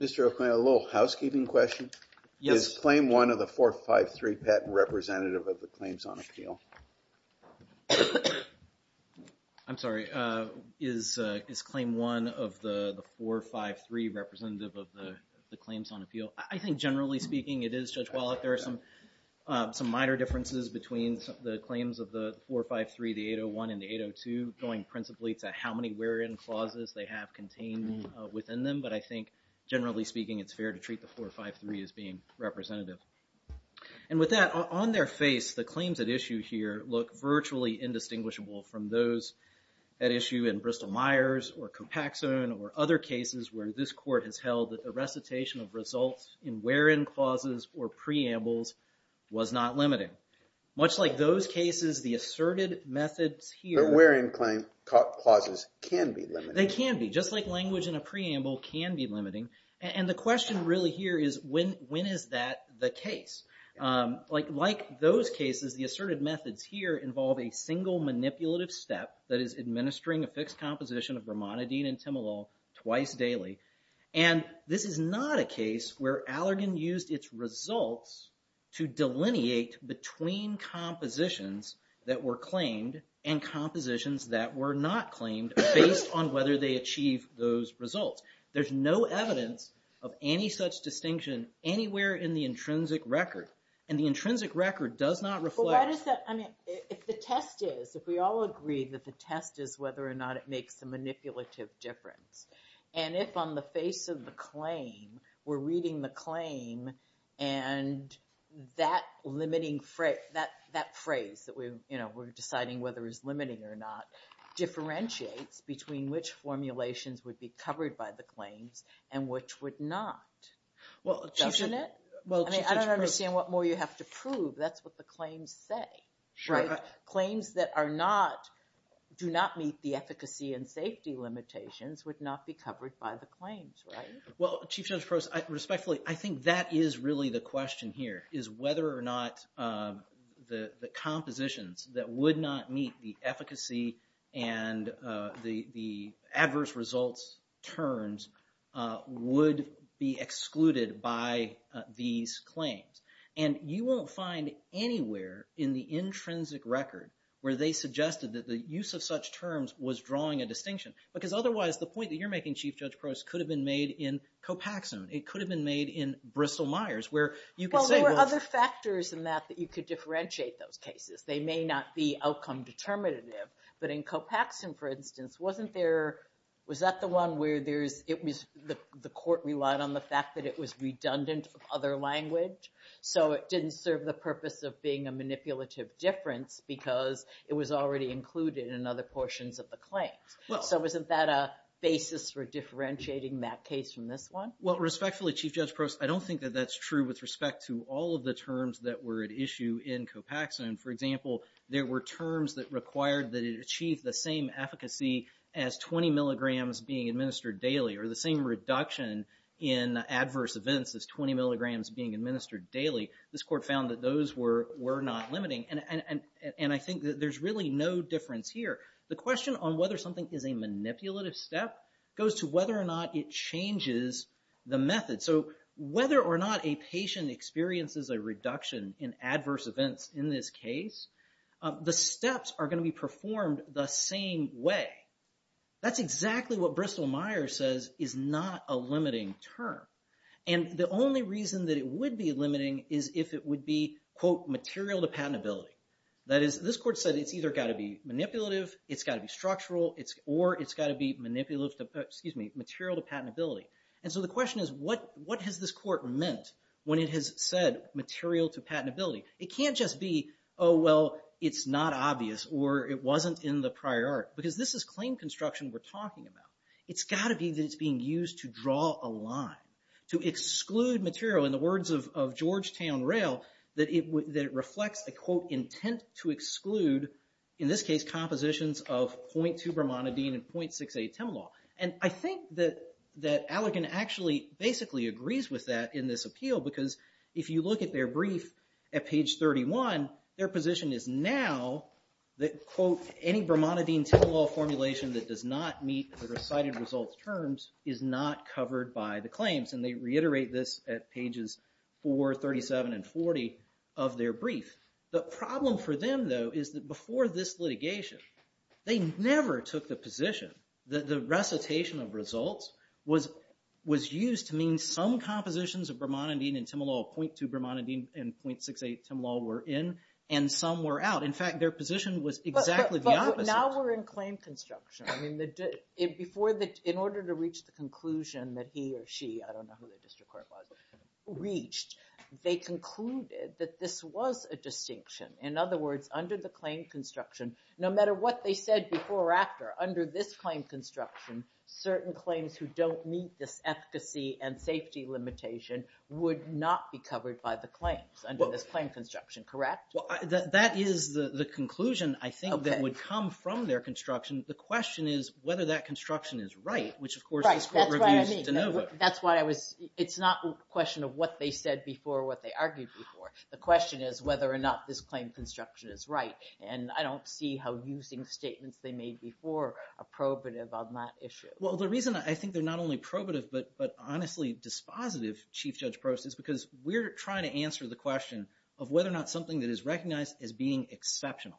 Mr. O'Connor, a little housekeeping question. Is claim one of the 453 patent representative of the claims on appeal? I'm sorry, is claim one of the 453 representative of the claims on appeal? I think generally speaking it is Judge Wallach. There are some some minor differences between the claims of the 453, the 801, and the 802 going principally to how many wear-in clauses they have contained within them, but I think generally speaking it's fair to treat the 453 as being representative. And with that, on their face the claims at issue here look virtually indistinguishable from those at issue in Bristol-Myers or Copaxone or other cases where this court has held that the recitation of results in wear-in clauses or preambles was not limiting. Much like those cases, the asserted methods here... The wear-in claim clauses can be They can be. Just like language in a preamble can be limiting. And the question really here is when is that the case? Like those cases, the asserted methods here involve a single manipulative step that is administering a fixed composition of bromonidine and timolol twice daily. And this is not a case where Allergan used its results to delineate between compositions that were whether they achieve those results. There's no evidence of any such distinction anywhere in the intrinsic record. And the intrinsic record does not reflect... Well why does that... I mean if the test is, if we all agree that the test is whether or not it makes a manipulative difference. And if on the face of the claim, we're reading the claim and that limiting phrase, that phrase that we, you know, we're deciding whether it's limiting or not, differentiates between which formulations would be covered by the claims and which would not. Well... I mean I don't understand what more you have to prove. That's what the claims say, right? Claims that are not, do not meet the efficacy and safety limitations would not be covered by the claims, right? Well, Chief Judge Prose, respectfully, I think that is really the question here. Is whether or not the compositions that would not meet the efficacy and the adverse results terms would be excluded by these claims. And you won't find anywhere in the intrinsic record where they suggested that the use of such terms was drawing a distinction. Because otherwise, the point that you're making, Chief Judge Prose, could have been made in Copaxone. It could have been made in Bristol-Myers, where you could say... There are other factors in that that you could differentiate those cases. They may not be outcome determinative. But in Copaxone, for instance, wasn't there, was that the one where there's, it was, the court relied on the fact that it was redundant of other language? So it didn't serve the purpose of being a manipulative difference because it was already included in other portions of the claims. So isn't that a basis for differentiating that case from this one? Well, respectfully, Chief Judge Prose, I don't think that that's true with respect to all of the terms that were at issue in Copaxone. For example, there were terms that required that it achieved the same efficacy as 20 milligrams being administered daily or the same reduction in adverse events as 20 milligrams being administered daily. This court found that those were not limiting. And I think that there's really no difference here. The question on whether something is a manipulative step goes to whether or not it changes the experience as a reduction in adverse events in this case. The steps are going to be performed the same way. That's exactly what Bristol-Myers says is not a limiting term. And the only reason that it would be limiting is if it would be quote, material to patentability. That is, this court said it's either got to be manipulative, it's got to be structural, or it's got to be manipulative to, excuse me, material to patentability. And so the question is, what has this said, material to patentability? It can't just be, oh well, it's not obvious or it wasn't in the prior art. Because this is claim construction we're talking about. It's got to be that it's being used to draw a line, to exclude material in the words of Georgetown Rail, that it reflects a quote, intent to exclude, in this case compositions of 0.2-bromonidine and 0.68-timolol. And I think that that Allegan actually basically agrees with that in this case. If you look at their brief at page 31, their position is now that quote, any bromonidine-timolol formulation that does not meet the recited results terms is not covered by the claims. And they reiterate this at pages 4, 37, and 40 of their brief. The problem for them though is that before this litigation, they never took the position that the recitation of results was used to mean some compositions of bromonidine and timolol, 0.2-bromonidine and 0.68-timolol were in, and some were out. In fact, their position was exactly the opposite. Now we're in claim construction. I mean, in order to reach the conclusion that he or she, I don't know who the district court was, reached, they concluded that this was a distinction. In other words, under the claim construction, no matter what they said before or after, under this claim construction, certain claims who don't meet this efficacy and safety limitation would not be covered by the claims under this claim construction, correct? Well, that is the conclusion, I think, that would come from their construction. The question is whether that construction is right, which of course the district court reviews de novo. That's why I was, it's not a question of what they said before or what they argued before. The question is whether or not this claim construction is right, and I Well, the reason I think they're not only probative, but honestly dispositive, Chief Judge Prost, is because we're trying to answer the question of whether or not something that is recognized as being exceptional,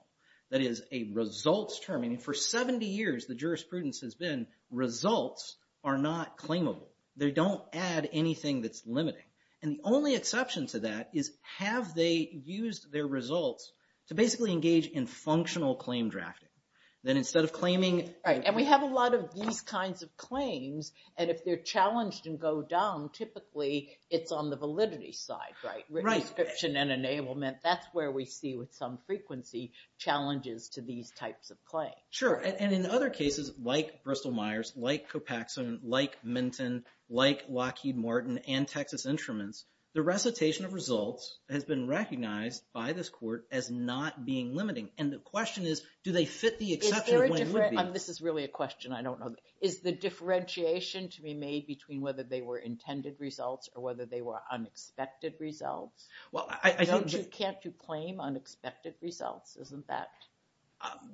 that is a results term. I mean, for 70 years, the jurisprudence has been results are not claimable. They don't add anything that's limiting, and the only exception to that is have they used their results to basically engage in functional claim drafting. Then instead of claiming... Right, and we have a lot of these kinds of claims, and if they're challenged and go down, typically it's on the validity side, right? Right. Registration and enablement, that's where we see with some frequency challenges to these types of claims. Sure, and in other cases like Bristol-Myers, like Copaxone, like Minton, like Lockheed Martin, and Texas Instruments, the recitation of results has been recognized by this court as not being limiting, and the question is, do they fit the exception when it would be? This is really a question I don't know. Is the differentiation to be made between whether they were intended results or whether they were unexpected results? Well, I think... Can't you claim unexpected results? Isn't that...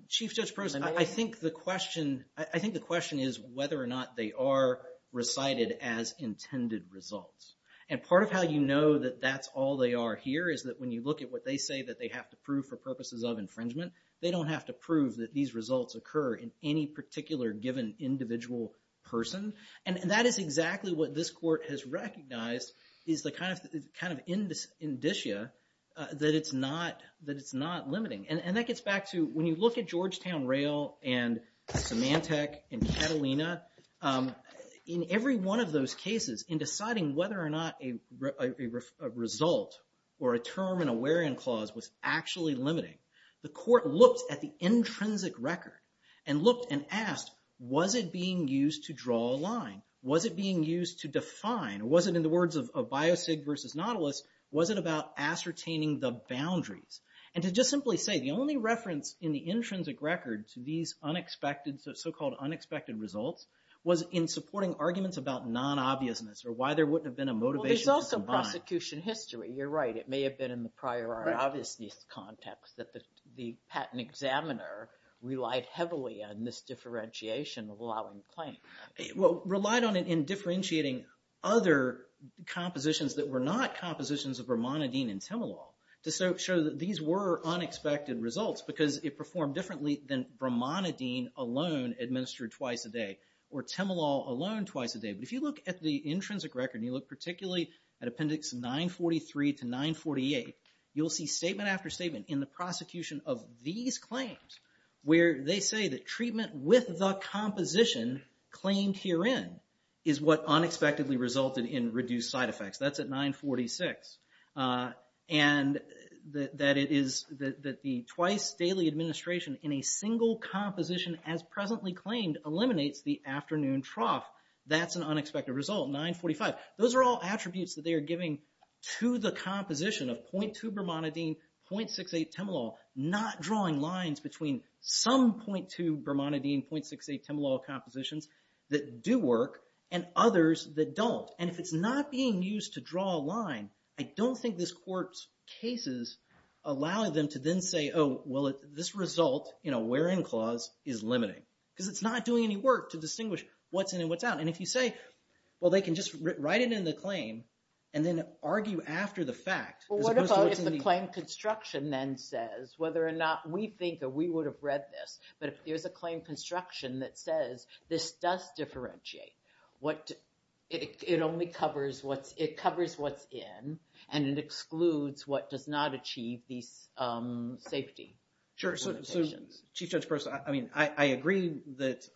Chief Judge Prost, I think the question is whether or not they are recited as intended results, and part of how you know that that's all they are here is that when you look at what they say that they have to prove for purposes of infringement, they don't have to prove that these results occur in any particular given individual person, and that is exactly what this court has recognized is the kind of indicia that it's not limiting, and that gets back to when you look at Georgetown, Rayl, and Symantec, and Catalina, in every one of those cases, in actually limiting, the court looked at the intrinsic record, and looked and asked, was it being used to draw a line? Was it being used to define, or was it in the words of Biosig versus Nautilus, was it about ascertaining the boundaries? And to just simply say, the only reference in the intrinsic record to these unexpected, so-called unexpected results, was in supporting arguments about non-obviousness, or why there wouldn't have been a motivation. There's also prosecution history, you're right, it may have been in the prior obviousness context that the patent examiner relied heavily on this differentiation of allowing the claim. Well, relied on it in differentiating other compositions that were not compositions of bromonidine and temelol, to show that these were unexpected results, because it performed differently than bromonidine alone administered twice a day, or temelol alone twice a day, but if you look at the 946, 943 to 948, you'll see statement after statement in the prosecution of these claims, where they say that treatment with the composition claimed herein, is what unexpectedly resulted in reduced side effects. That's at 946, and that it is, that the twice daily administration in a single composition as presently claimed, eliminates the afternoon trough. That's an unexpected result, 945. Those are all attributes that they are giving to the composition of 0.2 bromonidine, 0.68 temelol, not drawing lines between some 0.2 bromonidine, 0.68 temelol compositions that do work, and others that don't. And if it's not being used to draw a line, I don't think this court's cases allow them to then say, oh, well, this result in a where-in clause is limiting, because it's not doing any work to distinguish what's in and what's out. And if you say, well, they can just write it in the claim, and then argue after the fact. Well, what about if the claim construction then says, whether or not we think, or we would have read this, but if there's a claim construction that says, this does differentiate, what, it only covers what's, it covers what's in, and it excludes what does not achieve these safety limitations. Sure, so, Chief Judge Prosser, I mean, I agree that,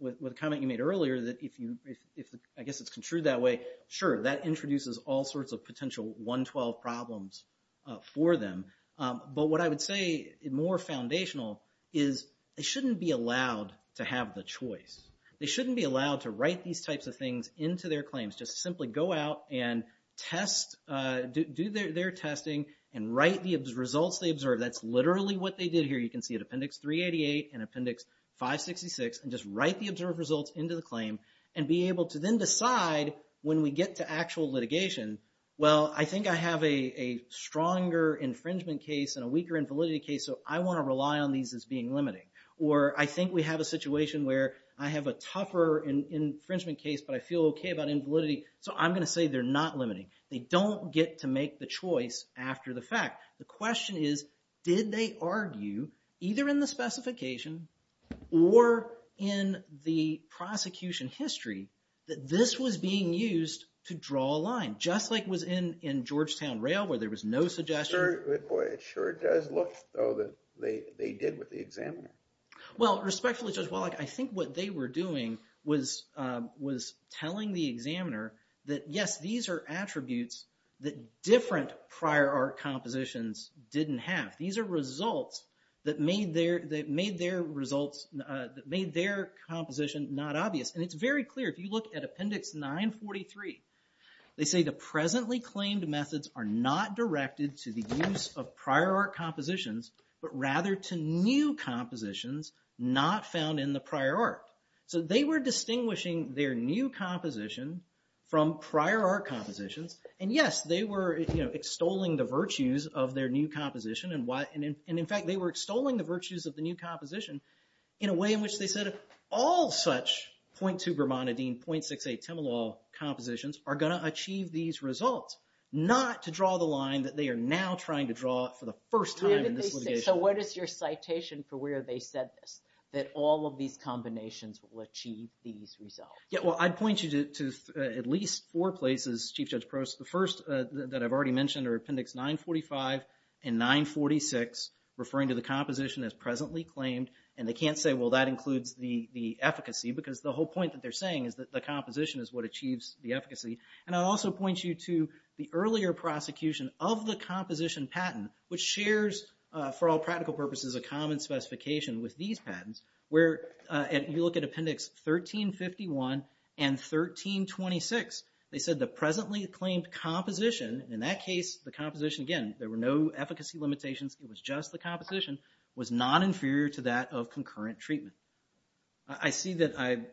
with the comment you made earlier, that if you, if, I guess it's construed that way, sure, that introduces all sorts of potential 112 problems for them. But what I would say, more foundational, is they shouldn't be allowed to have the choice. They shouldn't be allowed to write these types of things into their claims. Just simply go out and test, do their testing, and write the results they observed. That's literally what they did here. You can see it, Appendix 388 and Appendix 566, and just write the observed results into the claim, and be able to then decide, when we get to actual litigation, well, I think I have a stronger infringement case and a weaker invalidity case, so I want to rely on these as being limiting. Or, I think we have a situation where I have a tougher infringement case, but I feel okay about invalidity, so I'm gonna say they're not limiting. They don't get to make the choice after the fact. The question is, did they argue, either in the prosecution history, that this was being used to draw a line, just like it was in in Georgetown Rail, where there was no suggestion? It sure does look, though, that they did with the examiner. Well, respectfully, Judge Wallach, I think what they were doing was telling the examiner that, yes, these are attributes that different prior art compositions didn't have. These are results that made their composition not obvious, and it's very clear. If you look at Appendix 943, they say the presently claimed methods are not directed to the use of prior art compositions, but rather to new compositions not found in the prior art. So they were distinguishing their new composition from prior art compositions, and yes, they were extolling the virtues of their new composition, and in fact, they were extolling the virtues of the new composition in a way in which they said, if all such .2-bromonidine, .68-timolol compositions are going to achieve these results, not to draw the line that they are now trying to draw for the first time in this litigation. So what is your citation for where they said this, that all of these combinations will achieve these results? Yeah, well, I'd point you to at least four places, Chief Judge Prost. The first that I've already mentioned are Appendix 945 and 946, referring to the composition as presently claimed, and they can't say, well, that includes the efficacy, because the whole point that they're saying is that the composition is what achieves the efficacy. And I'll also point you to the earlier prosecution of the composition patent, which shares, for all practical purposes, a common specification with these patents, where if you look at Appendix 1351 and 1326, they said the presently claimed composition, in that case, the composition, again, there were no efficacy limitations, it was just the composition, was non-inferior to that of concurrent treatment. I see that I'm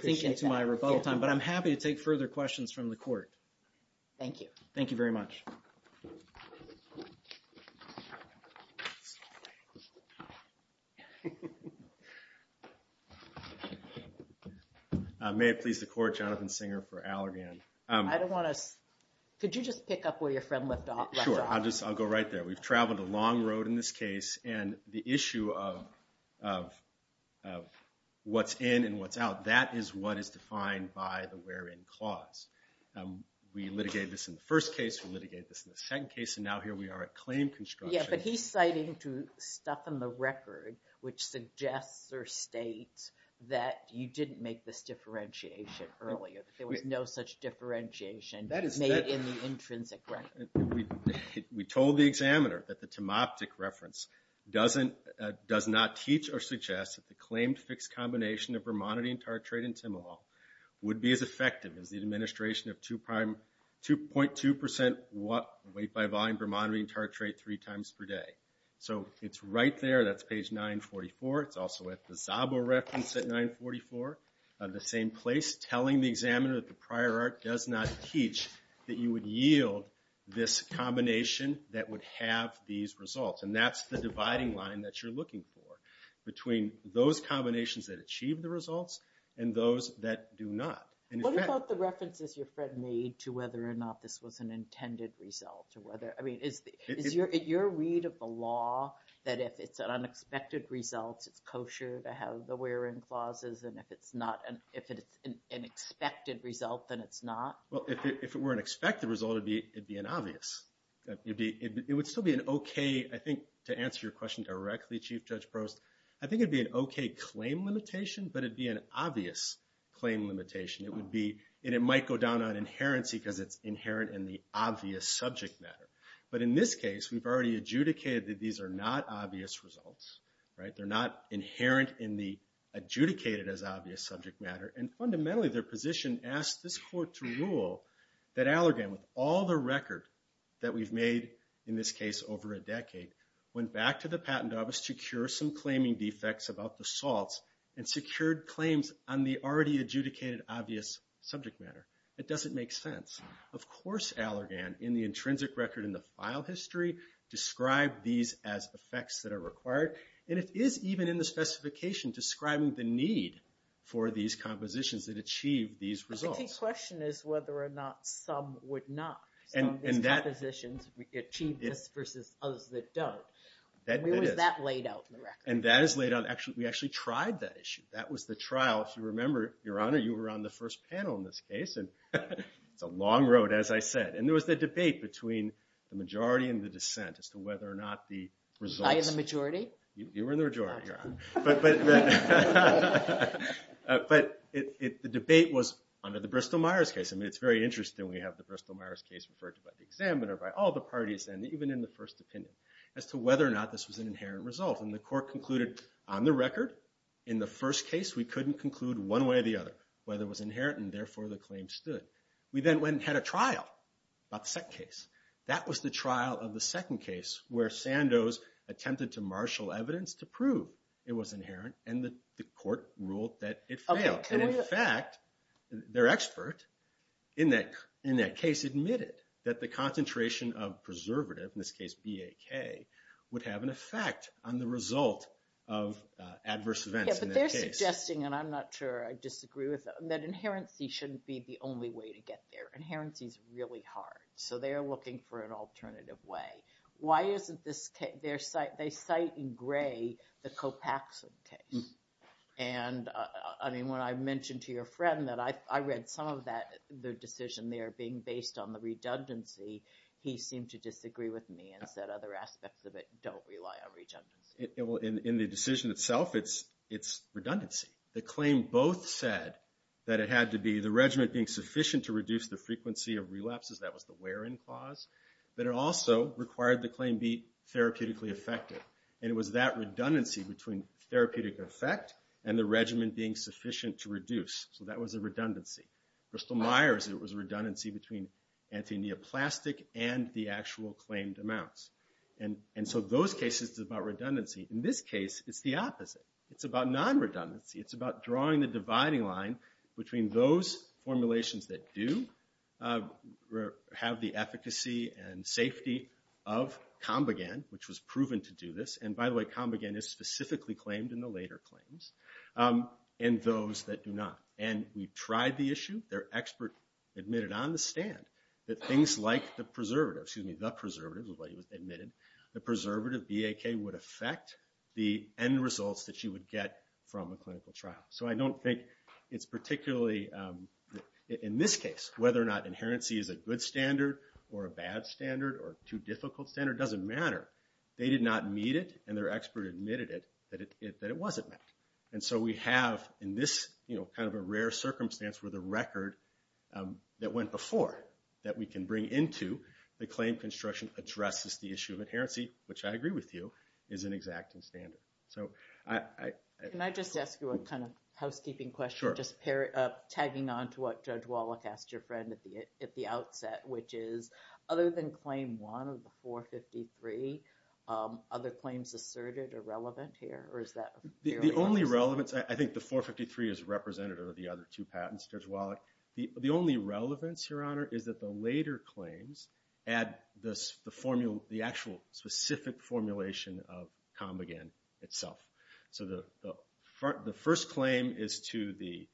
thinking to my rebuttal time, but I'm happy to take further questions from the Court. Thank you. Thank you very much. May it please the Court, Jonathan Singer for Allergan. I don't want to, could you just pick up where your friend left off? Sure, I'll just, I'll go right there. We've traveled a long road in this case, and the issue of what's in and what's out, that is what is defined by the where-in clause. We litigated this in the first case, we litigated this in the second case, and now here we are at claim construction. Yeah, but he's citing to stuff in the record which suggests or states that you didn't make this differentiation earlier, that there was no such differentiation made in the intrinsic record. We told the examiner that the Timoptic reference doesn't, does not teach or suggest that the claimed fixed combination of vermonity and tartrate and Timoval would be as effective as the 2% weight by volume vermonity and tartrate three times per day. So it's right there, that's page 944, it's also at the Zabo reference at 944, at the same place, telling the examiner that the prior art does not teach that you would yield this combination that would have these results. And that's the dividing line that you're looking for, between those combinations that achieve the results and those that do not. What about the references your friend made to whether or not this was an intended result, or whether, I mean, is your read of the law that if it's an unexpected result, it's kosher to have the wherein clauses, and if it's not, if it's an expected result, then it's not? Well, if it were an expected result, it'd be an obvious. It would still be an okay, I think, to answer your question directly, Chief Judge Prost, I think it'd be an okay claim limitation, but it'd be an obvious claim limitation. It would be, and it is inherent in the obvious subject matter. But in this case, we've already adjudicated that these are not obvious results, right? They're not inherent in the adjudicated as obvious subject matter, and fundamentally, their position asks this court to rule that Allergan, with all the record that we've made in this case over a decade, went back to the patent office to cure some claiming defects about the salts, and secured claims on the already adjudicated obvious subject matter. It doesn't make sense. Of course Allergan, in the intrinsic record in the file history, described these as effects that are required, and it is even in the specification describing the need for these compositions that achieve these results. The key question is whether or not some would not. Some of these compositions achieve this versus others that don't. That is laid out in the record. And that is laid out, actually, we actually tried that was the trial. If you remember, Your Honor, you were on the first panel in this case, and it's a long road, as I said. And there was the debate between the majority and the dissent as to whether or not the results... I am the majority? You were in the majority, Your Honor. But the debate was under the Bristol-Myers case. I mean, it's very interesting we have the Bristol-Myers case referred to by the examiner, by all the parties, and even in the first opinion, as to whether or not this was an adverse case, we couldn't conclude one way or the other. Whether it was inherent, and therefore the claim stood. We then went and had a trial about the second case. That was the trial of the second case where Sandoz attempted to marshal evidence to prove it was inherent, and the court ruled that it failed. In fact, their expert in that case admitted that the concentration of preservative, in this case BAK, would have an effect on the result of adverse events in that case. Yeah, but they're suggesting, and I'm not sure I disagree with them, that inherency shouldn't be the only way to get there. Inherency is really hard, so they are looking for an alternative way. Why isn't this case... they cite in gray the Copaxson case. And, I mean, when I mentioned to your friend that I read some of that, the decision there being based on the redundancy, he seemed to disagree with me and said other aspects of it don't rely on redundancy. In the decision itself, it's redundancy. The claim both said that it had to be the regimen being sufficient to reduce the frequency of relapses, that was the where-in clause, but it also required the claim be therapeutically effective. And it was that redundancy between therapeutic effect and the regimen being sufficient to reduce. So that was a redundancy. Bristol-Myers, it was a redundancy between antineoplastic and the actual claimed amounts. And so those cases, it's about redundancy. In this case, it's the opposite. It's about non-redundancy. It's about drawing the dividing line between those formulations that do have the efficacy and safety of Combigan, which was proven to do this, and by the way, Combigan is specifically claimed in the later claims, and those that do not. And we tried the issue. Their expert admitted on the stand that things like the preservative, excuse me, the preservative, the way it was admitted, the BAK would affect the end results that you would get from a clinical trial. So I don't think it's particularly, in this case, whether or not inherency is a good standard or a bad standard or too difficult standard doesn't matter. They did not meet it, and their expert admitted it, that it wasn't met. And so we have, in this kind of a rare circumstance where the record that went before that we can bring into the claim construction addresses the issue of the BAK review, is an exacting standard. So I... Can I just ask you a kind of housekeeping question, just tagging on to what Judge Wallach asked your friend at the outset, which is, other than claim one of the 453, other claims asserted are relevant here, or is that... The only relevance, I think the 453 is representative of the other two patents, Judge Wallach. The only relevance, Your Honor, is that the later claims add the actual specific formulation of Combigan itself. So the first claim is to the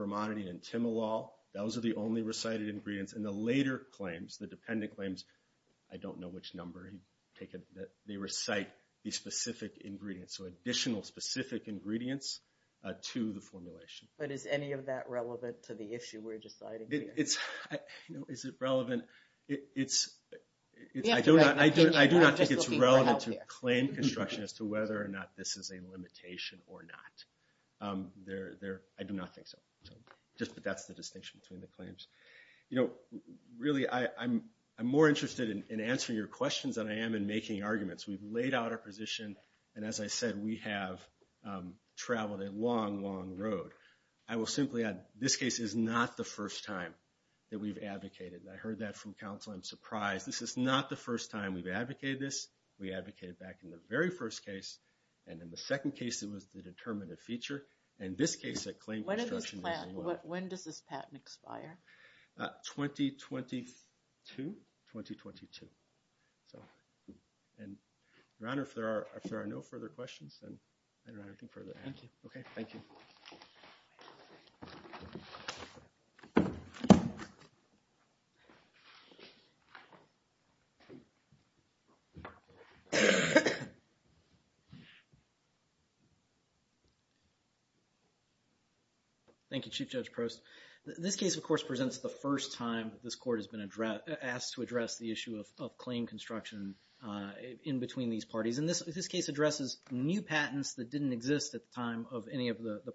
Bermondi and Timalol. Those are the only recited ingredients. And the later claims, the dependent claims, I don't know which number, they recite the specific ingredients. So additional specific ingredients to the formulation. But is any of that relevant to the issue we're deciding here? Is it relevant? I do not think it's relevant to claim construction as to whether or not this is a limitation or not. I do not think so. Just that that's the distinction between the claims. Really, I'm more interested in answering your questions than I am in making arguments. We've laid out our position, and as I said, we have traveled a long, long road. I will simply add, this case is not the first time we've advocated this. We advocated back in the very first case, and in the second case, it was the determinative feature. In this case, the claim construction is the law. When does this patent expire? 2022. Your Honor, if there are no further questions, then I don't have anything further to add. Thank you. Okay, thank you. Thank you, Chief Judge Prost. This case, of course, presents the first time this court has been asked to address the issue of claim construction in between these parties. And this case addresses new patents that didn't exist at the time of any of the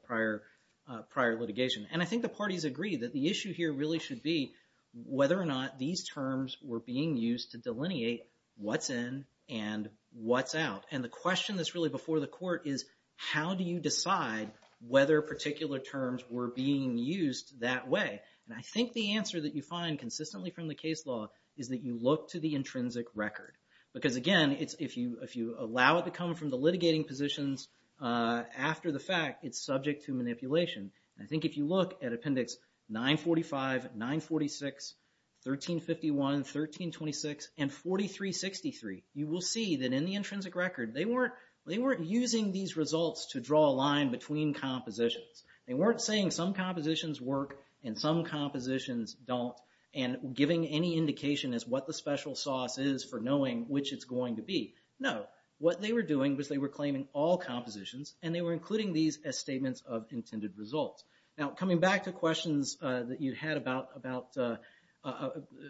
prior litigation. And I think the parties agree that the issue here really should be whether or not these terms were being used to delineate what's in and what's out. And the question that's really before the court is how do you decide whether particular terms were being used that way? And I think the answer that you find consistently from the case law is that you look to the intrinsic record. Because again, if you allow it to come from the litigating positions after the fact, it's subject to manipulation. And I think if you look at Appendix 945, 946, 1351, 1326, and 4363, you will see that in the intrinsic record, they weren't using these results to draw a line between compositions. They weren't saying some compositions work and some compositions don't and giving any indication as what the special sauce is for knowing which it's going to be. No, what they were doing was they were claiming all compositions and they were questions that you had about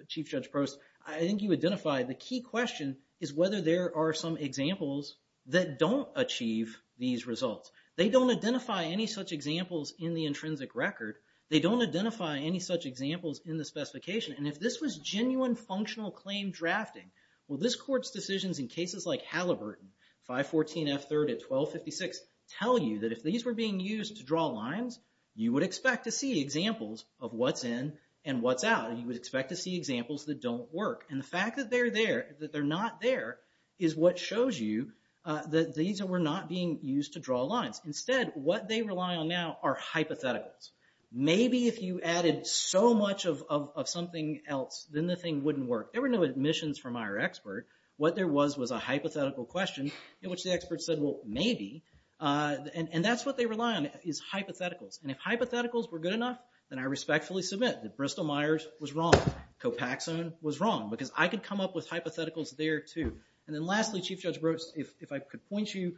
Chief Judge Prost. I think you identified the key question is whether there are some examples that don't achieve these results. They don't identify any such examples in the intrinsic record. They don't identify any such examples in the specification. And if this was genuine functional claim drafting, will this court's decisions in cases like Halliburton, 514F3 at 1256, tell you that if these were being used to draw lines, you would expect to see examples of what's in and what's out. You would expect to see examples that don't work. And the fact that they're there, that they're not there, is what shows you that these were not being used to draw lines. Instead, what they rely on now are hypotheticals. Maybe if you added so much of something else, then the thing wouldn't work. There were no admissions from our expert. What there was was a hypothetical question in which the expert said, well, maybe. And that's what they rely on is hypotheticals. And if hypotheticals were good enough, then I respectfully submit that Bristol-Myers was wrong. Copaxone was wrong. Because I could come up with hypotheticals there too. And then lastly, Chief Judge Prost, if I could point you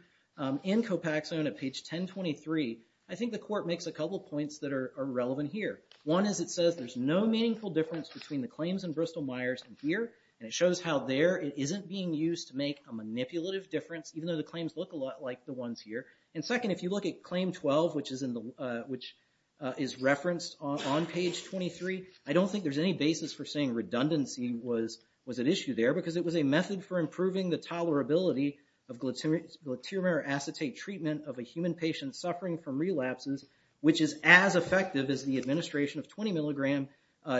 in Copaxone at page 1023, I think the court makes a couple of points that are relevant here. One is it says there's no meaningful difference between the claims in Bristol-Myers and here. And it shows how there it isn't being used to make a manipulative difference, even though the claims look a lot like the ones here. And second, if you look at claim 12, which is referenced on page 23, I don't think there's any basis for saying redundancy was an issue there. Because it was a method for improving the tolerability of glutamate or acetate treatment of a human patient suffering from relapses, which is as effective as the administration of 20 milligram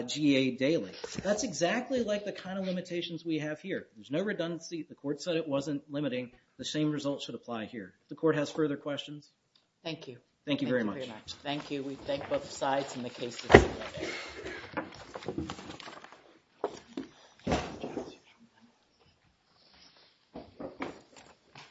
GA daily. That's exactly like the kind of limitations we have here. There's no redundancy. The court said it wasn't limiting. The same result should apply here. If the court has further questions. Thank you. Thank you very much. Thank you. We thank both sides in the case.